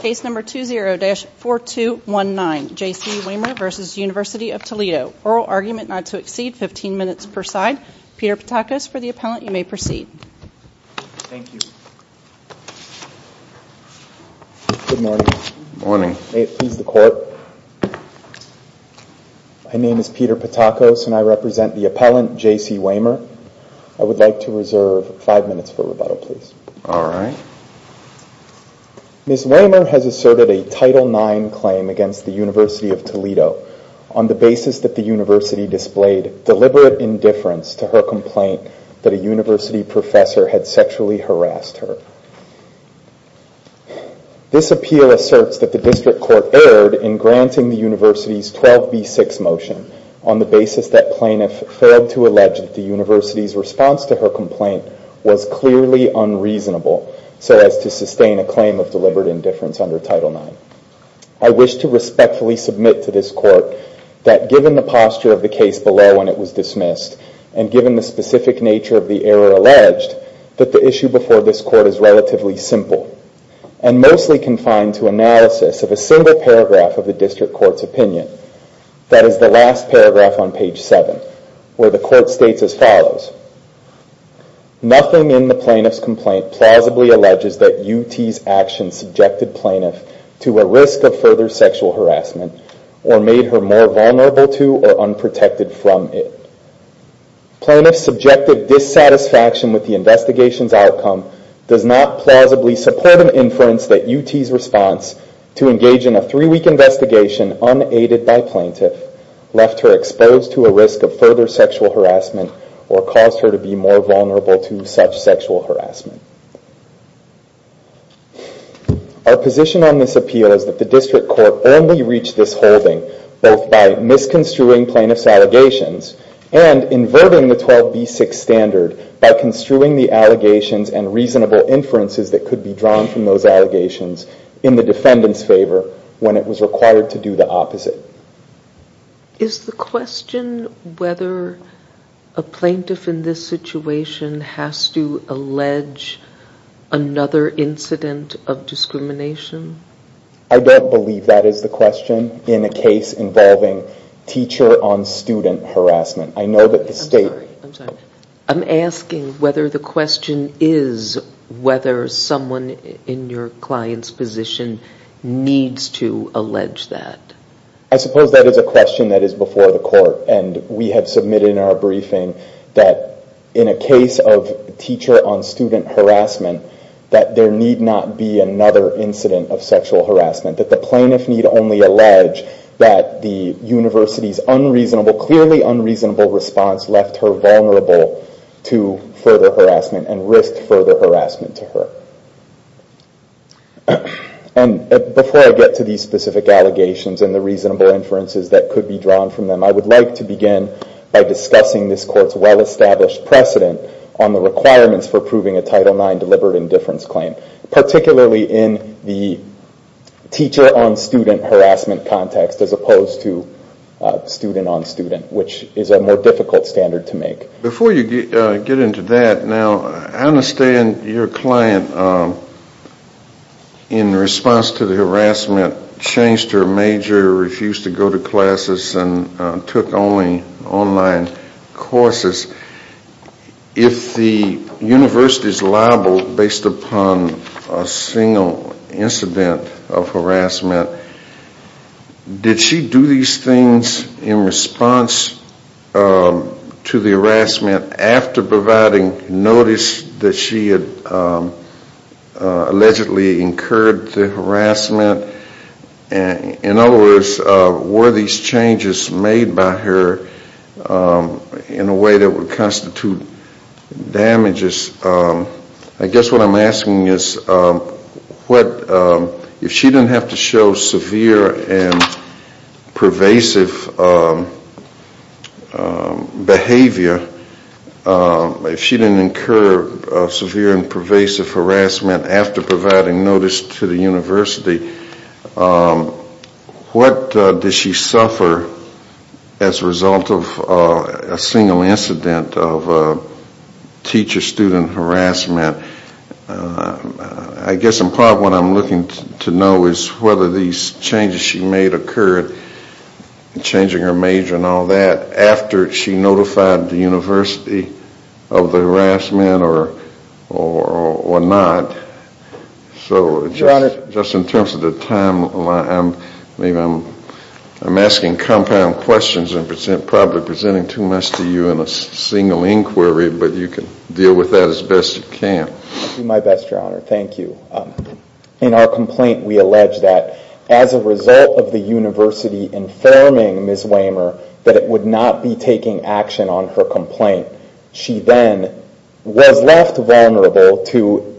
Case number 20-4219, Jacee Wamer v. University of Toledo. Oral argument not to exceed 15 minutes per side. Peter Patakos for the appellant, you may proceed. Thank you. Good morning. Good morning. May it please the court. My name is Peter Patakos and I represent the appellant, Jacee Wamer. I would like to reserve five minutes for rebuttal, please. Alright. Ms. Wamer has asserted a Title IX claim against the University of Toledo on the basis that the university displayed deliberate indifference to her complaint that a university professor had sexually harassed her. This appeal asserts that the district court erred in granting the university's 12B6 motion on the basis that plaintiff failed to allege that the university's response to her complaint was clearly unreasonable so as to sustain a claim of deliberate indifference under Title IX. I wish to respectfully submit to this court that given the posture of the case below when it was dismissed and given the specific nature of the error alleged, that the issue before this court is relatively simple and mostly confined to analysis of a single paragraph of the district court's opinion. That is the last paragraph on page 7 where the court states as follows, Nothing in the plaintiff's complaint plausibly alleges that UT's action subjected plaintiff to a risk of further sexual harassment or made her more vulnerable to or unprotected from it. Plaintiff's subjective dissatisfaction with the investigation's outcome does not plausibly support an inference that UT's response to engage in a three-week investigation unaided by plaintiff left her exposed to a risk of further sexual harassment or caused her to be more vulnerable to such sexual harassment. Our position on this appeal is that the district court only reached this holding both by misconstruing plaintiff's allegations and inverting the 12B6 standard by construing the allegations and reasonable inferences that could be drawn from those allegations in the defendant's favor when it was required to do the opposite. Is the question whether a plaintiff in this situation has to allege another incident of discrimination? I don't believe that is the question in a case involving teacher-on-student harassment. I know that the state... I'm sorry, I'm sorry. I'm asking whether the question is whether someone in your client's position needs to allege that. I suppose that is a question that is before the court, and we have submitted in our briefing that in a case of teacher-on-student harassment that there need not be another incident of sexual harassment, that the plaintiff need only allege that the university's unreasonable, clearly unreasonable response left her vulnerable to further harassment and risked further harassment to her. And before I get to these specific allegations and the reasonable inferences that could be drawn from them, I would like to begin by discussing this court's well-established precedent on the requirements for proving a Title IX deliberate indifference claim, particularly in the teacher-on-student harassment context as opposed to student-on-student, which is a more difficult standard to make. Before you get into that, now, I understand your client, in response to the harassment, changed her major, refused to go to classes, and took only online courses. If the university is liable based upon a single incident of harassment, did she do these things in response to the harassment after providing notice that she had allegedly incurred the harassment? In other words, were these changes made by her in a way that would constitute damages? I guess what I'm asking is, if she didn't have to show severe and pervasive behavior, if she didn't incur severe and pervasive harassment after providing notice to the university, what does she suffer as a result of a single incident of teacher-student harassment? I guess in part what I'm looking to know is whether these changes she made occurred, changing her major and all that, after she notified the university of the harassment or not. So just in terms of the timeline, I'm asking compound questions and probably presenting too much to you in a single inquiry, but you can deal with that as best you can. I'll do my best, Your Honor. Thank you. In our complaint, we allege that as a result of the university informing Ms. Waymer that it would not be taking action on her complaint, she then was left vulnerable to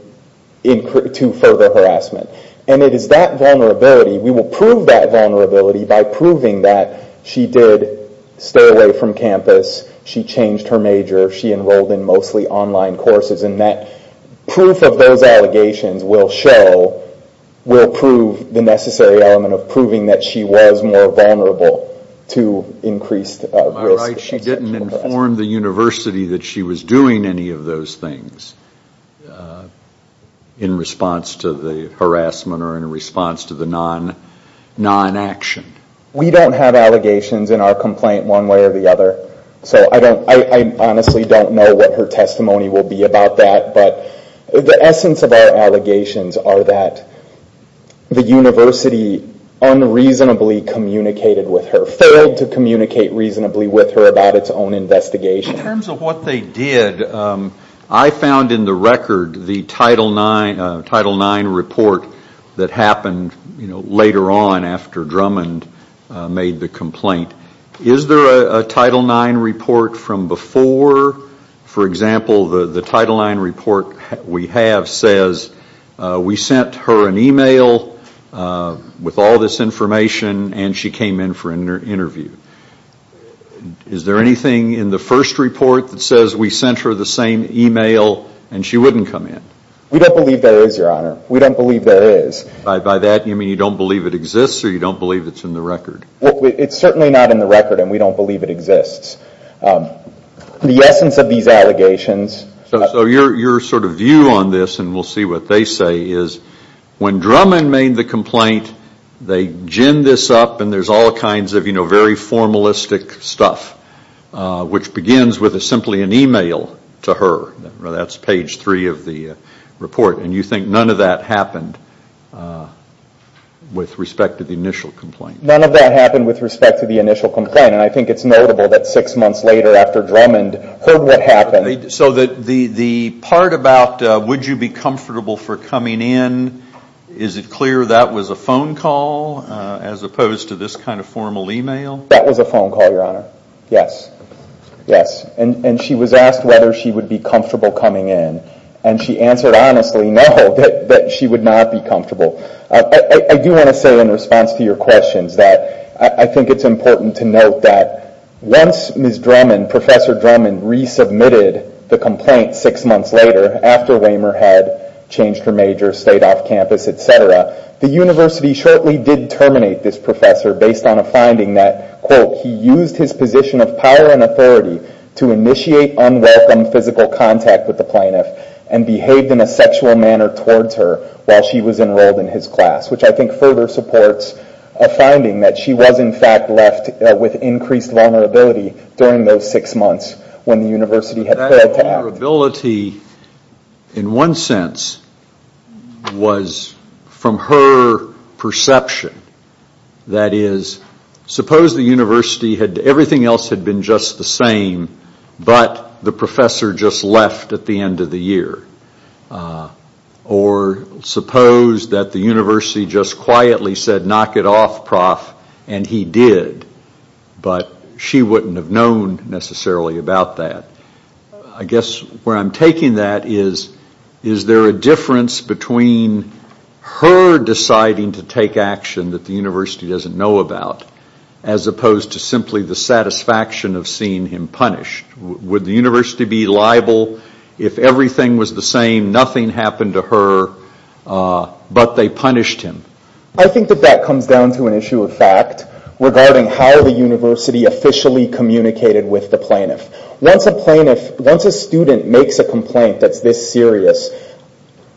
further harassment. And it is that vulnerability, we will prove that vulnerability by proving that she did stay away from campus, she changed her major, she enrolled in mostly online courses, and that proof of those allegations will show, will prove the necessary element of proving that she was more vulnerable to increased risk. She didn't inform the university that she was doing any of those things in response to the harassment or in response to the non-action. We don't have allegations in our complaint one way or the other. I honestly don't know what her testimony will be about that, but the essence of our allegations are that the university unreasonably communicated with her, failed to communicate reasonably with her about its own investigation. In terms of what they did, I found in the record the Title IX report that happened later on after Drummond made the complaint. Is there a Title IX report from before? For example, the Title IX report we have says, we sent her an email with all this information and she came in for an interview. Is there anything in the first report that says we sent her the same email and she wouldn't come in? We don't believe there is, Your Honor. We don't believe there is. By that you mean you don't believe it exists or you don't believe it's in the record? It's certainly not in the record and we don't believe it exists. The essence of these allegations... So your sort of view on this, and we'll see what they say, is when Drummond made the complaint, they gin this up and there's all kinds of very formalistic stuff, which begins with simply an email to her. That's page three of the report, and you think none of that happened with respect to the initial complaint? None of that happened with respect to the initial complaint, and I think it's notable that six months later after Drummond heard what happened... So the part about would you be comfortable for coming in, is it clear that was a phone call as opposed to this kind of formal email? That was a phone call, Your Honor. Yes. Yes. And she was asked whether she would be comfortable coming in, and she answered honestly no, that she would not be comfortable. I do want to say in response to your questions that I think it's important to note that once Ms. Drummond, Professor Drummond, resubmitted the complaint six months later after Waymer had changed her major, stayed off campus, et cetera, the university shortly did terminate this professor based on a finding that, quote, he used his position of power and authority to initiate unwelcome physical contact with the plaintiff and behaved in a sexual manner towards her while she was enrolled in his class, which I think further supports a finding that she was in fact left with increased vulnerability during those six months when the university had failed to act. That vulnerability, in one sense, was from her perception. That is, suppose the university had, everything else had been just the same, but the professor just left at the end of the year. Or suppose that the university just quietly said, knock it off, prof, and he did, but she wouldn't have known necessarily about that. I guess where I'm taking that is, is there a difference between her deciding to take action that the university doesn't know about as opposed to simply the satisfaction of seeing him punished? Would the university be liable if everything was the same, nothing happened to her, but they punished him? I think that that comes down to an issue of fact regarding how the university officially communicated with the plaintiff. Once a student makes a complaint that's this serious,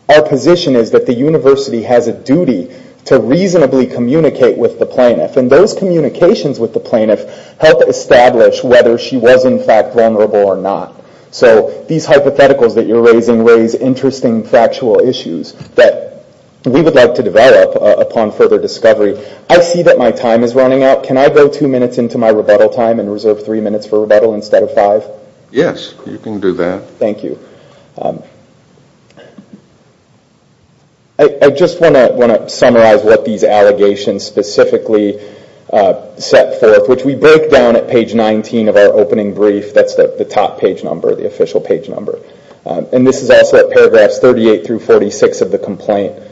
our position is that the university has a duty to reasonably communicate with the plaintiff, and those communications with the plaintiff help establish whether she was in fact vulnerable or not. So these hypotheticals that you're raising raise interesting factual issues that we would like to develop upon further discovery. I see that my time is running out. Can I go two minutes into my rebuttal time and reserve three minutes for rebuttal instead of five? Yes, you can do that. Thank you. I just want to summarize what these allegations specifically set forth, which we break down at page 19 of our opening brief. That's the top page number, the official page number. And this is also at paragraphs 38 through 46 of the complaint.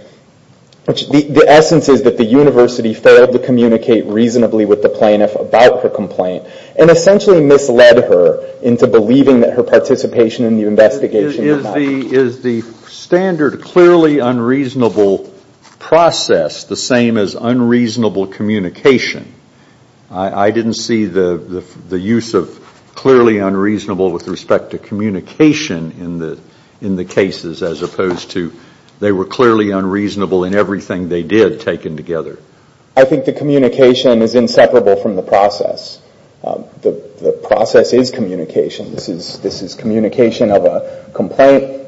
The essence is that the university failed to communicate reasonably with the plaintiff about her complaint and essentially misled her into believing that her participation in the investigation was not. Is the standard clearly unreasonable process the same as unreasonable communication? I didn't see the use of clearly unreasonable with respect to communication in the cases as opposed to they were clearly unreasonable in everything they did taken together. I think the communication is inseparable from the process. The process is communication. This is communication of a complaint,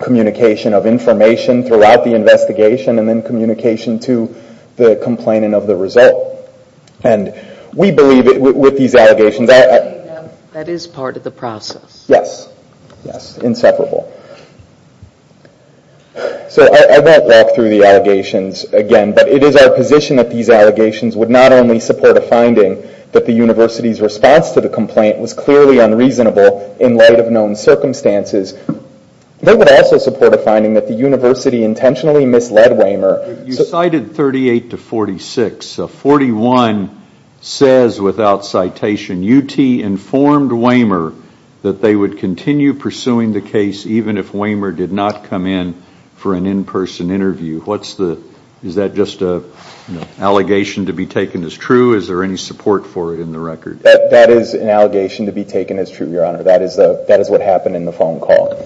communication of information throughout the investigation, and then communication to the complainant of the result. And we believe that with these allegations. That is part of the process. Yes. Yes, inseparable. So I won't walk through the allegations again, but it is our position that these allegations would not only support a finding that the university's response to the complaint was clearly unreasonable in light of known circumstances. They would also support a finding that the university intentionally misled Wehmer. You cited 38 to 46. 41 says without citation, UT informed Wehmer that they would continue pursuing the case even if Wehmer did not come in for an in-person interview. Is that just an allegation to be taken as true? Is there any support for it in the record? That is an allegation to be taken as true, Your Honor. That is what happened in the phone call.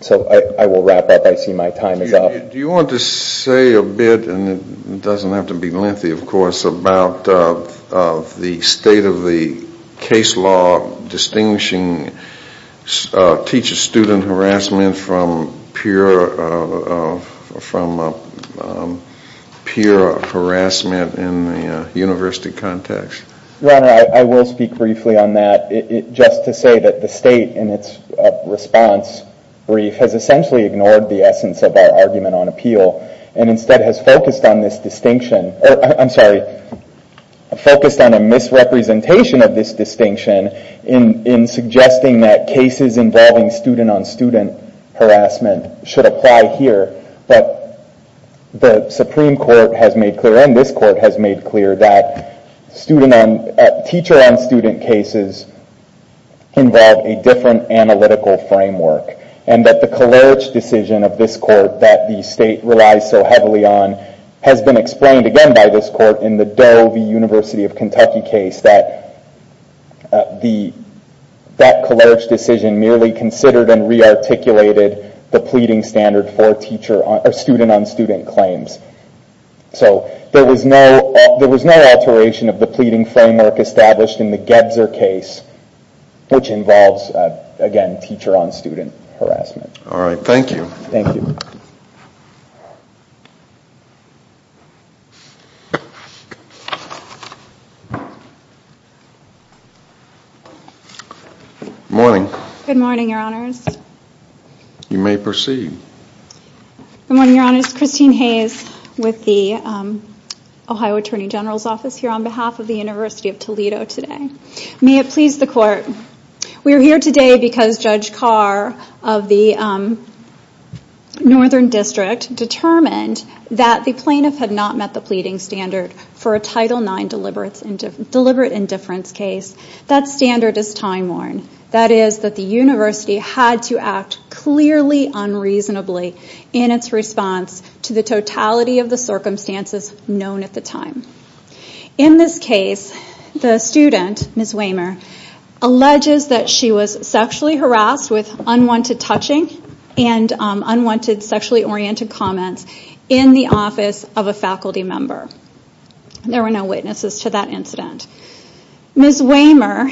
So I will wrap up. I see my time is up. Do you want to say a bit, and it doesn't have to be lengthy, of course, about the state of the case law distinguishing teacher-student harassment from peer harassment in the university context? Your Honor, I will speak briefly on that. Just to say that the state, in its response brief, has essentially ignored the essence of our argument on appeal and instead has focused on a misrepresentation of this distinction in suggesting that cases involving student-on-student harassment should apply here. The Supreme Court has made clear, and this Court has made clear, that teacher-on-student cases involve a different analytical framework and that the Kalerich decision of this Court that the state relies so heavily on has been explained again by this Court in the Doe v. University of Kentucky case that the Kalerich decision merely considered and re-articulated the pleading standard for student-on-student claims. So there was no alteration of the pleading framework established in the Gebzer case, which involves, again, teacher-on-student harassment. All right. Thank you. Thank you. Good morning. Good morning, Your Honors. You may proceed. Good morning, Your Honors. Christine Hayes with the Ohio Attorney General's Office here on behalf of the University of Toledo today. May it please the Court. We are here today because Judge Carr of the Northern District determined that the plaintiff had not met the pleading standard for a Title IX deliberate indifference case. That standard is time-worn. That is, that the University had to act clearly unreasonably in its response to the totality of the circumstances known at the time. In this case, the student, Ms. Wehmer, alleges that she was sexually harassed with unwanted touching and unwanted sexually-oriented comments in the office of a faculty member. There were no witnesses to that incident. Ms. Wehmer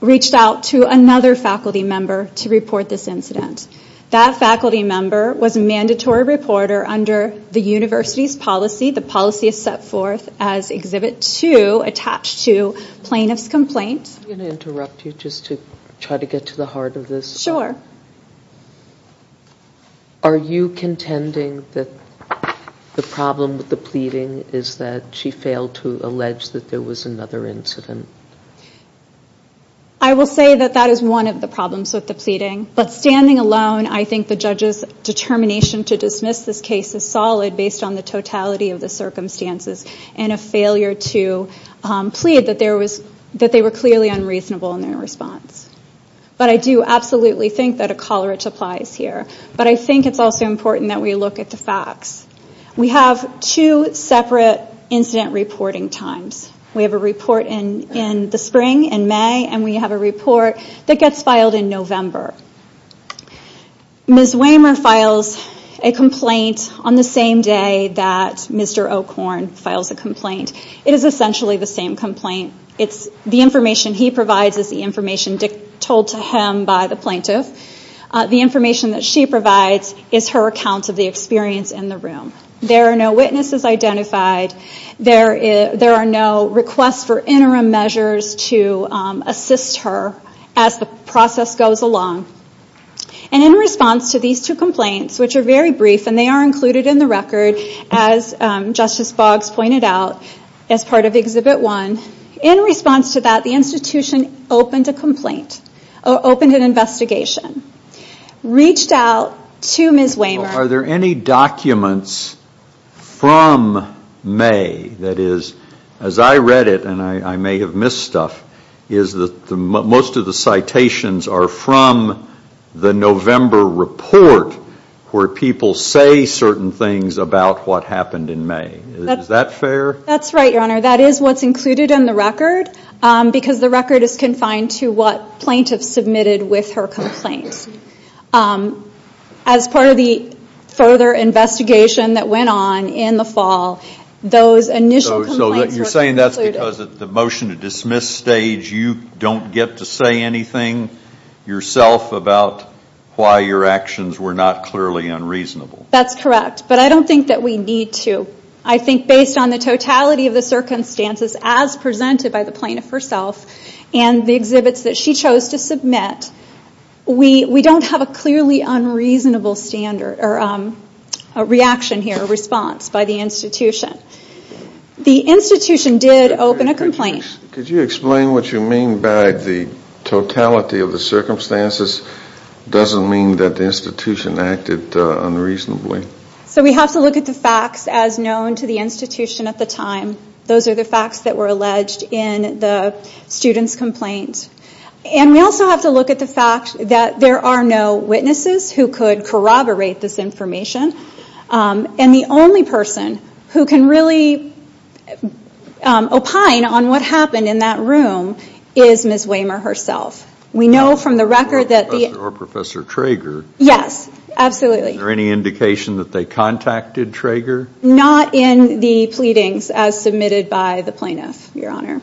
reached out to another faculty member to report this incident. That faculty member was a mandatory reporter under the University's policy. The policy is set forth as Exhibit 2 attached to plaintiff's complaint. I'm going to interrupt you just to try to get to the heart of this. Sure. Are you contending that the problem with the pleading is that she failed to allege that there was another incident? I will say that that is one of the problems with the pleading. But standing alone, I think the judge's determination to dismiss this case is solid based on the totality of the circumstances and a failure to plead that they were clearly unreasonable in their response. But I do absolutely think that a coleridge applies here. But I think it's also important that we look at the facts. We have two separate incident reporting times. We have a report in the spring, in May, and we have a report that gets filed in November. Ms. Wehmer files a complaint on the same day that Mr. O'Korn files a complaint. It is essentially the same complaint. The information he provides is the information told to him by the plaintiff. The information that she provides is her account of the experience in the room. There are no witnesses identified. There are no requests for interim measures to assist her as the process goes along. In response to these two complaints, which are very brief and they are included in the record, as Justice Boggs pointed out, as part of Exhibit 1, in response to that, the institution opened a complaint, opened an investigation, reached out to Ms. Wehmer. Are there any documents from May, that is, as I read it, and I may have missed stuff, is that most of the citations are from the November report where people say certain things about what happened in May. Is that fair? That's right, Your Honor. That is what's included in the record because the record is confined to what plaintiffs submitted with her complaint. As part of the further investigation that went on in the fall, those initial complaints were not included. You're saying that's because at the motion to dismiss stage, you don't get to say anything yourself about why your actions were not clearly unreasonable. That's correct, but I don't think that we need to. I think based on the totality of the circumstances as presented by the plaintiff herself and the exhibits that she chose to submit, we don't have a clearly unreasonable reaction here, response by the institution. The institution did open a complaint. Could you explain what you mean by the totality of the circumstances doesn't mean that the institution acted unreasonably? So we have to look at the facts as known to the institution at the time. Those are the facts that were alleged in the student's complaint. And we also have to look at the fact that there are no witnesses who could corroborate this information. And the only person who can really opine on what happened in that room is Ms. Wehmer herself. We know from the record that... Or Professor Traeger. Yes, absolutely. Is there any indication that they contacted Traeger? Not in the pleadings as submitted by the plaintiff, Your Honor.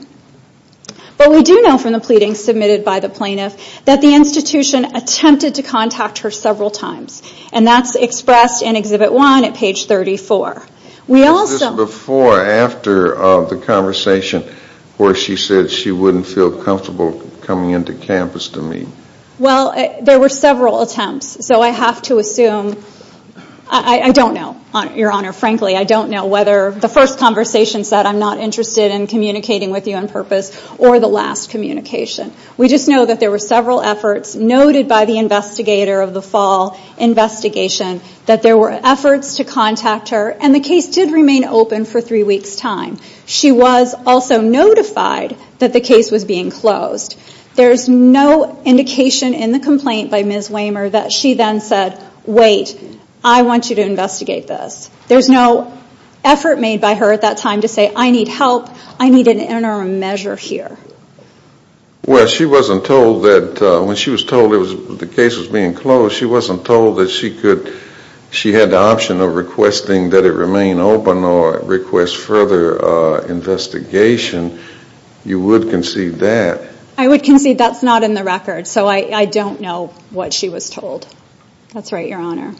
But we do know from the pleadings submitted by the plaintiff that the institution attempted to contact her several times. And that's expressed in Exhibit 1 at page 34. Was this before or after the conversation where she said she wouldn't feel comfortable coming into campus to meet? Well, there were several attempts. So I have to assume... I don't know, Your Honor, frankly. I don't know whether the first conversation said, I'm not interested in communicating with you on purpose, or the last communication. We just know that there were several efforts noted by the investigator of the fall investigation that there were efforts to contact her. And the case did remain open for three weeks' time. She was also notified that the case was being closed. There's no indication in the complaint by Ms. Wehmer that she then said, Wait, I want you to investigate this. There's no effort made by her at that time to say, I need help. I need an interim measure here. Well, she wasn't told that... she had the option of requesting that it remain open or request further investigation. You would concede that. I would concede that's not in the record. So I don't know what she was told. That's right, Your Honor.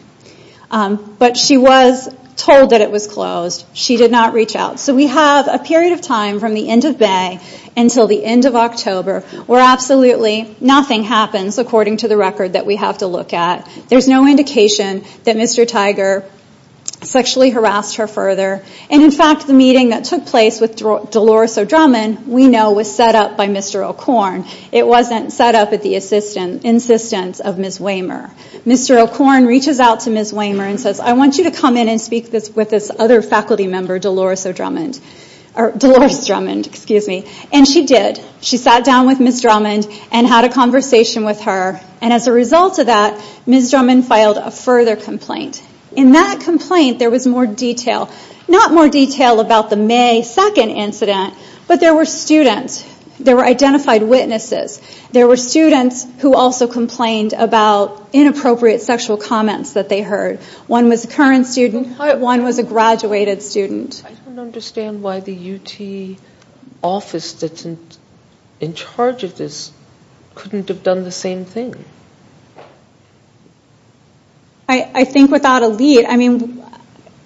But she was told that it was closed. She did not reach out. So we have a period of time from the end of May until the end of October where absolutely nothing happens according to the record that we have to look at. There's no indication that Mr. Tiger sexually harassed her further. And in fact, the meeting that took place with Dolores O'Drummond, we know, was set up by Mr. O'Korn. It wasn't set up at the insistence of Ms. Wehmer. Mr. O'Korn reaches out to Ms. Wehmer and says, I want you to come in and speak with this other faculty member, Dolores O'Drummond. And she did. She sat down with Ms. Drummond and had a conversation with her. And as a result of that, Ms. Drummond filed a further complaint. In that complaint, there was more detail. Not more detail about the May 2nd incident, but there were students. There were identified witnesses. There were students who also complained about inappropriate sexual comments that they heard. One was a current student. One was a graduated student. I don't understand why the UT office that's in charge of this couldn't have done the same thing. I think without a lead, I mean,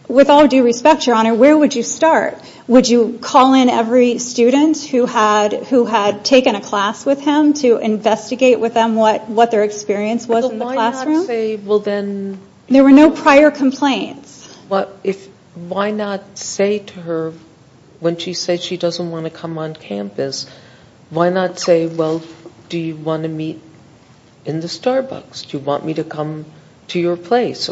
with all due respect, Your Honor, where would you start? Would you call in every student who had taken a class with him to investigate with them what their experience was in the classroom? Well, why not say, well, then... There were no prior complaints. Why not say to her, when she said she doesn't want to come on campus, why not say, well, do you want to meet in the Starbucks? Do you want me to come to your place?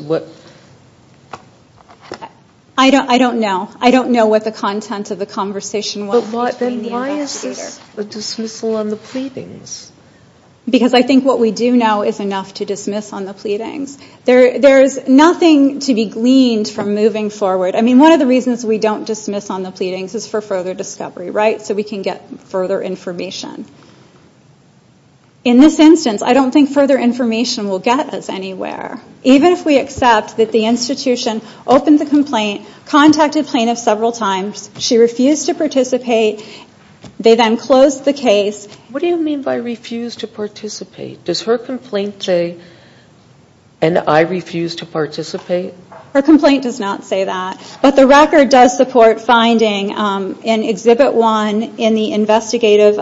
I don't know. I don't know what the content of the conversation was between the investigators. Then why is this a dismissal on the pleadings? Because I think what we do know is enough to dismiss on the pleadings. There is nothing to be gleaned from moving forward. I mean, one of the reasons we don't dismiss on the pleadings is for further discovery, right? So we can get further information. In this instance, I don't think further information will get us anywhere. Even if we accept that the institution opened the complaint, contacted plaintiffs several times, she refused to participate, they then closed the case. What do you mean by refused to participate? Does her complaint say, and I refuse to participate? Her complaint does not say that. But the record does support finding in Exhibit 1 in the investigative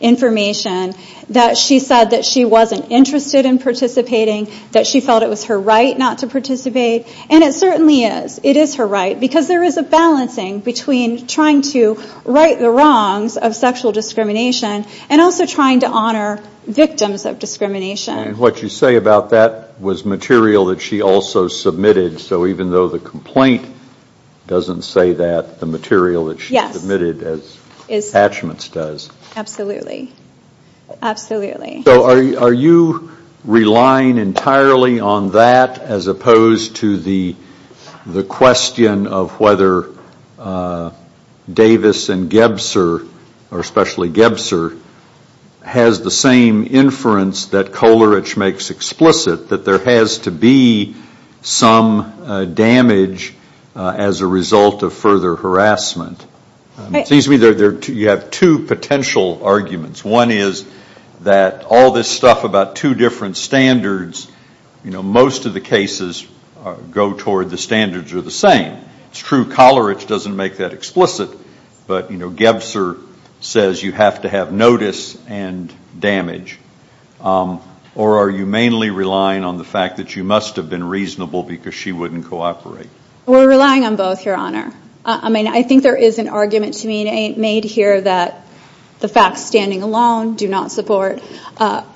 information that she said that she wasn't interested in participating, that she felt it was her right not to participate. And it certainly is. It is her right. Because there is a balancing between trying to right the wrongs of sexual discrimination and also trying to honor victims of discrimination. What you say about that was material that she also submitted. So even though the complaint doesn't say that, the material that she submitted as attachments does. Absolutely. Absolutely. So are you relying entirely on that as opposed to the question of whether Davis and Gebser, or especially Gebser, has the same inference that Kolarich makes explicit, that there has to be some damage as a result of further harassment? It seems to me you have two potential arguments. One is that all this stuff about two different standards, you know, most of the cases go toward the standards are the same. It's true Kolarich doesn't make that explicit. But, you know, Gebser says you have to have notice and damage. Or are you mainly relying on the fact that you must have been reasonable because she wouldn't cooperate? We're relying on both, Your Honor. I mean, I think there is an argument to be made here that the facts standing alone do not support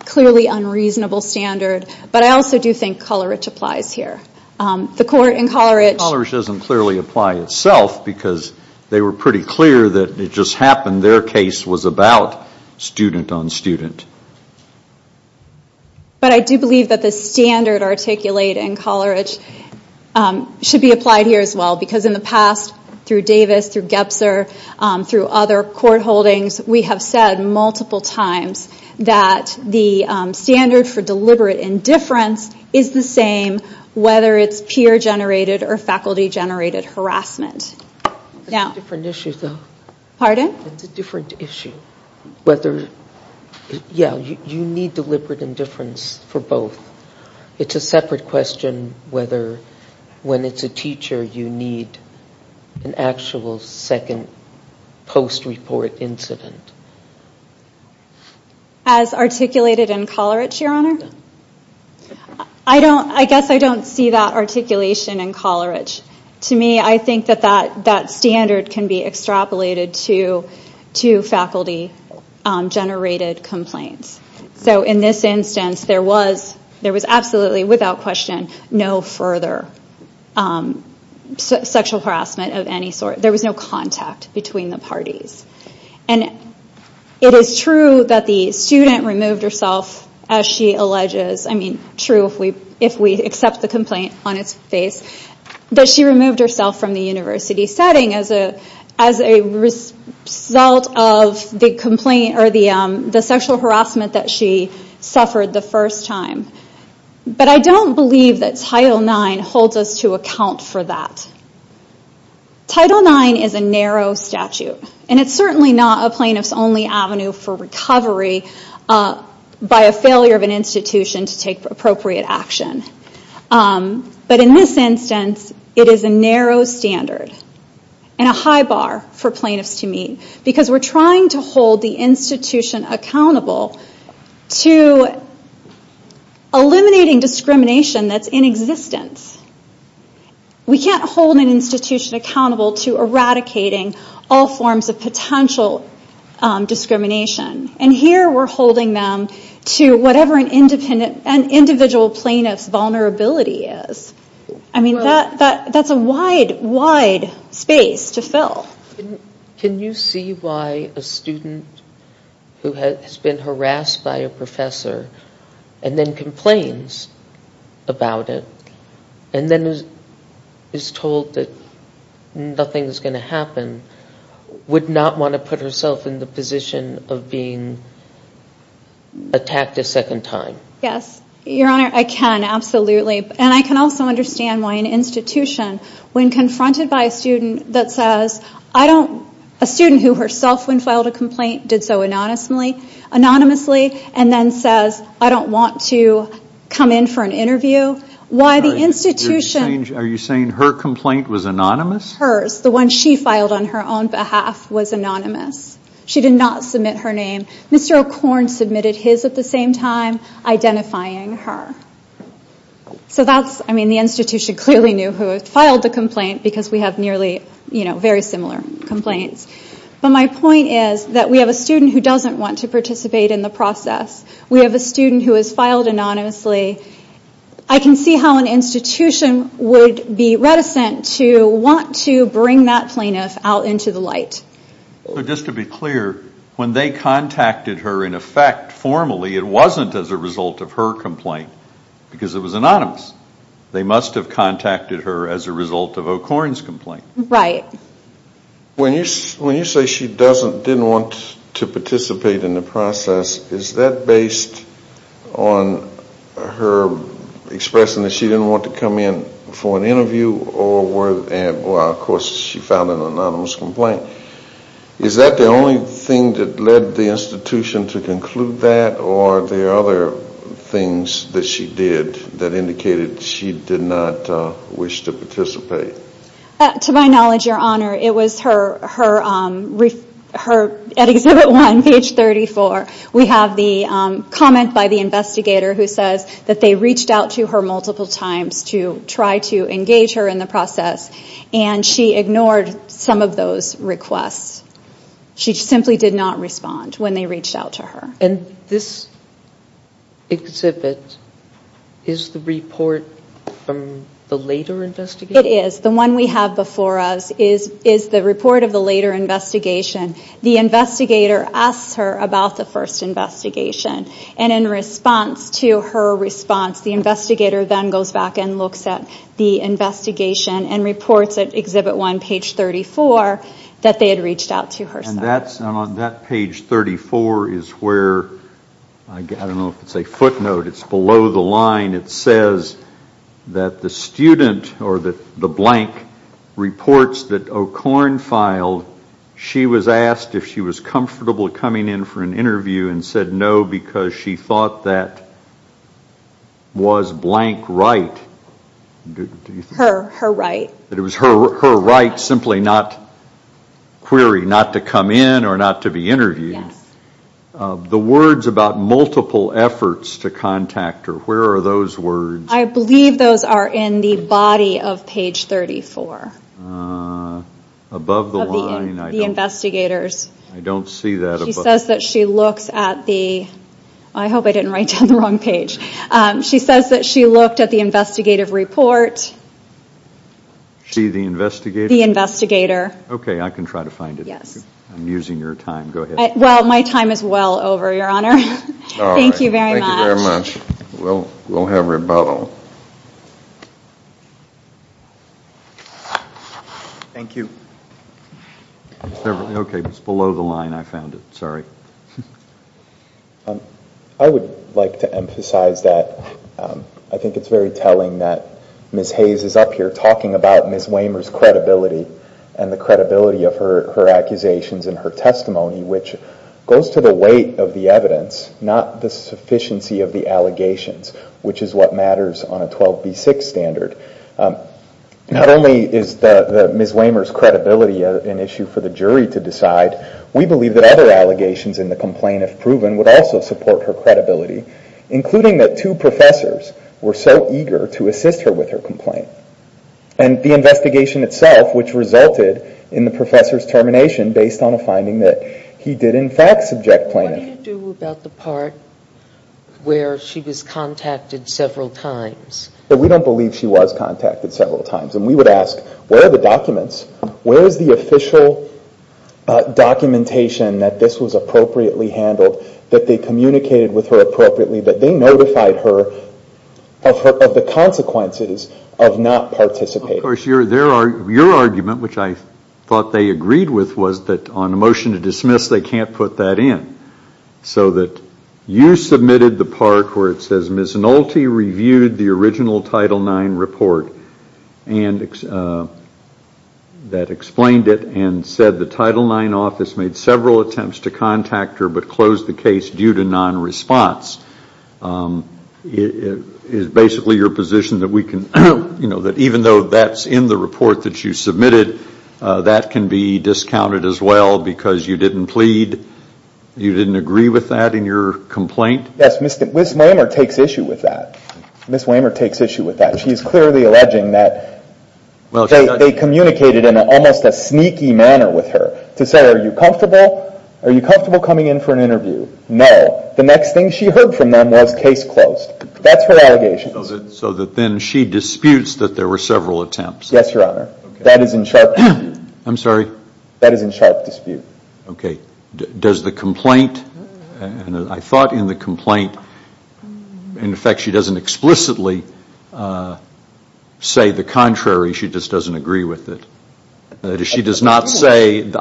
clearly unreasonable standard. But I also do think Kolarich applies here. The court in Kolarich. Kolarich doesn't clearly apply itself because they were pretty clear that it just happened their case was about student on student. But I do believe that the standard articulated in Kolarich should be applied here as well. Because in the past, through Davis, through Gebser, through other court holdings, we have said multiple times that the standard for deliberate indifference is the same, whether it's peer-generated or faculty-generated harassment. That's a different issue, though. Pardon? That's a different issue. Yeah, you need deliberate indifference for both. It's a separate question whether when it's a teacher you need an actual second post-report incident. As articulated in Kolarich, Your Honor? I guess I don't see that articulation in Kolarich. To me, I think that that standard can be extrapolated to faculty-generated complaints. So in this instance, there was absolutely, without question, no further sexual harassment of any sort. There was no contact between the parties. And it is true that the student removed herself, as she alleges. I mean, true if we accept the complaint on its face. But she removed herself from the university setting as a result of the sexual harassment that she suffered the first time. But I don't believe that Title IX holds us to account for that. Title IX is a narrow statute. And it's certainly not a plaintiff's only avenue for recovery by a failure of an institution to take appropriate action. But in this instance, it is a narrow standard and a high bar for plaintiffs to meet. Because we're trying to hold the institution accountable to eliminating discrimination that's in existence. We can't hold an institution accountable to eradicating all forms of potential discrimination. And here, we're holding them to whatever an individual plaintiff's vulnerability is. I mean, that's a wide, wide space to fill. Can you see why a student who has been harassed by a professor and then complains about it, and then is told that nothing's going to happen, would not want to put herself in the position of being attacked a second time? Yes, Your Honor, I can, absolutely. And I can also understand why an institution, when confronted by a student that says, I don't, a student who herself, when filed a complaint, did so anonymously, and then says, I don't want to come in for an interview. Why the institution, Are you saying her complaint was anonymous? Hers, the one she filed on her own behalf, was anonymous. She did not submit her name. Mr. O'Korn submitted his at the same time, identifying her. So that's, I mean, the institution clearly knew who had filed the complaint, because we have nearly, you know, very similar complaints. But my point is that we have a student who doesn't want to participate in the process. We have a student who has filed anonymously. I can see how an institution would be reticent to want to bring that plaintiff out into the light. Just to be clear, when they contacted her in effect formally, it wasn't as a result of her complaint, because it was anonymous. They must have contacted her as a result of O'Korn's complaint. Right. When you say she doesn't, didn't want to participate in the process, is that based on her expressing that she didn't want to come in for an interview, and of course she filed an anonymous complaint? Is that the only thing that led the institution to conclude that, or are there other things that she did that indicated she did not wish to participate? To my knowledge, Your Honor, it was her, at Exhibit 1, page 34, we have the comment by the investigator who says that they reached out to her multiple times to try to engage her in the process, and she ignored some of those requests. She simply did not respond when they reached out to her. And this exhibit is the report from the later investigation? It is. The one we have before us is the report of the later investigation. The investigator asks her about the first investigation, and in response to her response, the investigator then goes back and looks at the investigation and reports at Exhibit 1, page 34, that they had reached out to her. And on that page 34 is where, I don't know if it's a footnote, it's below the line, it says that the student, or the blank, reports that O'Korn filed. So she was asked if she was comfortable coming in for an interview and said no because she thought that was blank right. Her right. That it was her right, simply not query, not to come in or not to be interviewed. Yes. The words about multiple efforts to contact her, where are those words? I believe those are in the body of page 34. Above the line? Of the investigators. I don't see that. She says that she looks at the, I hope I didn't write down the wrong page. She says that she looked at the investigative report. She, the investigator? The investigator. Okay, I can try to find it. Yes. I'm using your time. Go ahead. Well, my time is well over, Your Honor. Thank you very much. Thank you very much. We'll have rebuttal. Thank you. Okay, it's below the line. I found it. Sorry. I would like to emphasize that I think it's very telling that Ms. Hayes is up here talking about Ms. Waymer's credibility and the credibility of her accusations and her testimony, which goes to the weight of the evidence, not the sufficiency of the allegations, which is what matters on a 12B6 standard. Not only is Ms. Waymer's credibility an issue for the jury to decide, we believe that other allegations in the complaint, if proven, would also support her credibility, including that two professors were so eager to assist her with her complaint. And the investigation itself, which resulted in the professor's termination, based on a finding that he did, in fact, subject plaintiff. What do you do about the part where she was contacted several times? We don't believe she was contacted several times. And we would ask, where are the documents? Where is the official documentation that this was appropriately handled, that they communicated with her appropriately, that they notified her of the consequences of not participating? Your argument, which I thought they agreed with, was that on a motion to dismiss, they can't put that in. So that you submitted the part where it says Ms. Nolte reviewed the original Title IX report that explained it and said the Title IX office made several attempts to contact her but closed the case due to non-response. Is basically your position that even though that's in the report that you submitted, that can be discounted as well because you didn't plead, you didn't agree with that in your complaint? Yes, Ms. Wehmer takes issue with that. Ms. Wehmer takes issue with that. She is clearly alleging that they communicated in almost a sneaky manner with her to say, are you comfortable? Are you comfortable coming in for an interview? No. The next thing she heard from them was case closed. That's her allegation. So that then she disputes that there were several attempts. Yes, Your Honor. That is in sharp dispute. I'm sorry? That is in sharp dispute. Okay. Does the complaint, and I thought in the complaint, in effect, she doesn't explicitly say the contrary. She just doesn't agree with it. She does not say, in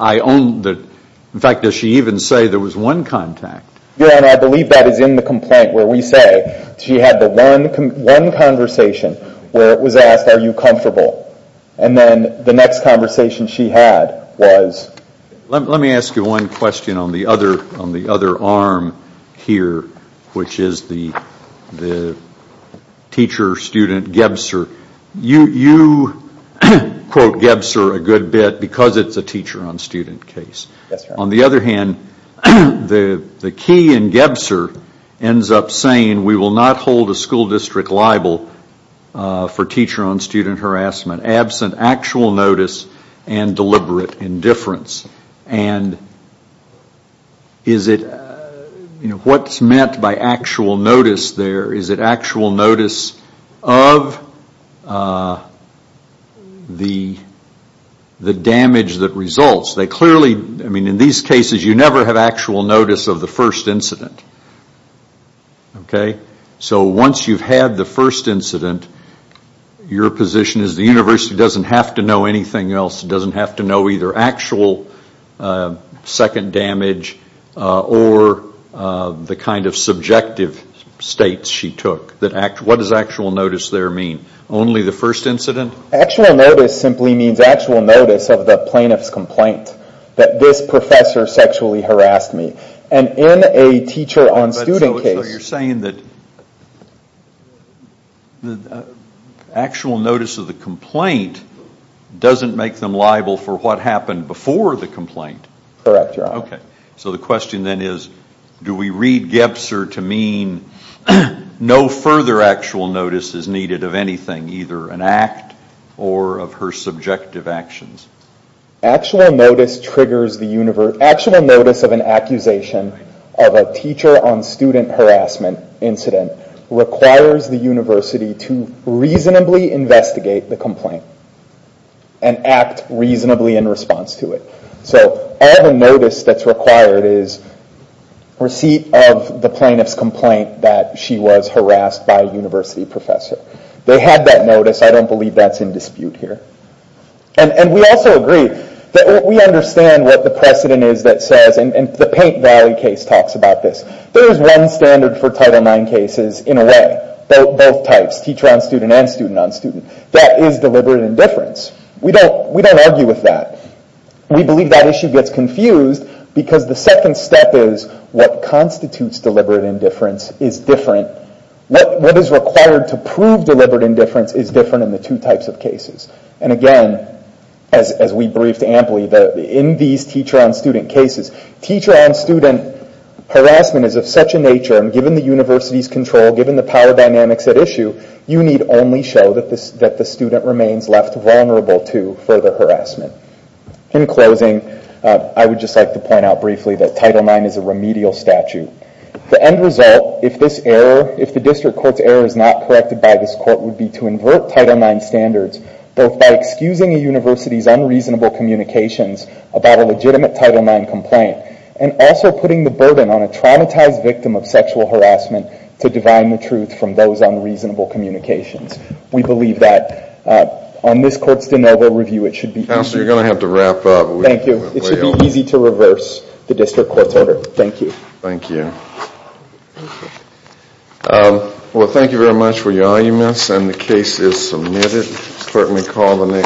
fact, does she even say there was one contact? Your Honor, I believe that is in the complaint where we say she had the one conversation where it was asked, are you comfortable? And then the next conversation she had was. Let me ask you one question on the other arm here, which is the teacher-student Gebser. You quote Gebser a good bit because it's a teacher-on-student case. Yes, Your Honor. On the other hand, the key in Gebser ends up saying, we will not hold a school district liable for teacher-on-student harassment absent actual notice and deliberate indifference. And is it, what's meant by actual notice there? Is it actual notice of the damage that results? They clearly, I mean, in these cases, you never have actual notice of the first incident. Okay? So once you've had the first incident, your position is the university doesn't have to know anything else. It doesn't have to know either actual second damage or the kind of subjective states she took. What does actual notice there mean? Only the first incident? Actual notice simply means actual notice of the plaintiff's complaint, that this professor sexually harassed me. And in a teacher-on-student case. So you're saying that actual notice of the complaint doesn't make them liable for what happened before the complaint? Correct, Your Honor. Okay. So the question then is, do we read Gebser to mean no further actual notice is needed of anything, either an act or of her subjective actions? Actual notice of an accusation of a teacher-on-student harassment incident requires the university to reasonably investigate the complaint and act reasonably in response to it. So all the notice that's required is receipt of the plaintiff's complaint that she was harassed by a university professor. They have that notice. I don't believe that's in dispute here. And we also agree that we understand what the precedent is that says, and the Paint Valley case talks about this, there is one standard for Title IX cases in a way, both types, teacher-on-student and student-on-student, that is deliberate indifference. We don't argue with that. We believe that issue gets confused because the second step is what constitutes deliberate indifference is different. is different in the two types of cases. And again, as we briefed amply, in these teacher-on-student cases, teacher-on-student harassment is of such a nature, and given the university's control, given the power dynamics at issue, you need only show that the student remains left vulnerable to further harassment. In closing, I would just like to point out briefly that Title IX is a remedial statute. The end result, if the district court's error is not corrected by this court, would be to invert Title IX standards both by excusing a university's unreasonable communications about a legitimate Title IX complaint and also putting the burden on a traumatized victim of sexual harassment to divine the truth from those unreasonable communications. We believe that on this court's de novo review it should be easy... Counselor, you're going to have to wrap up. Thank you. It should be easy to reverse the district court's order. Thank you. Thank you. Well, thank you very much for your arguments, and the case is submitted. Certainly call the next...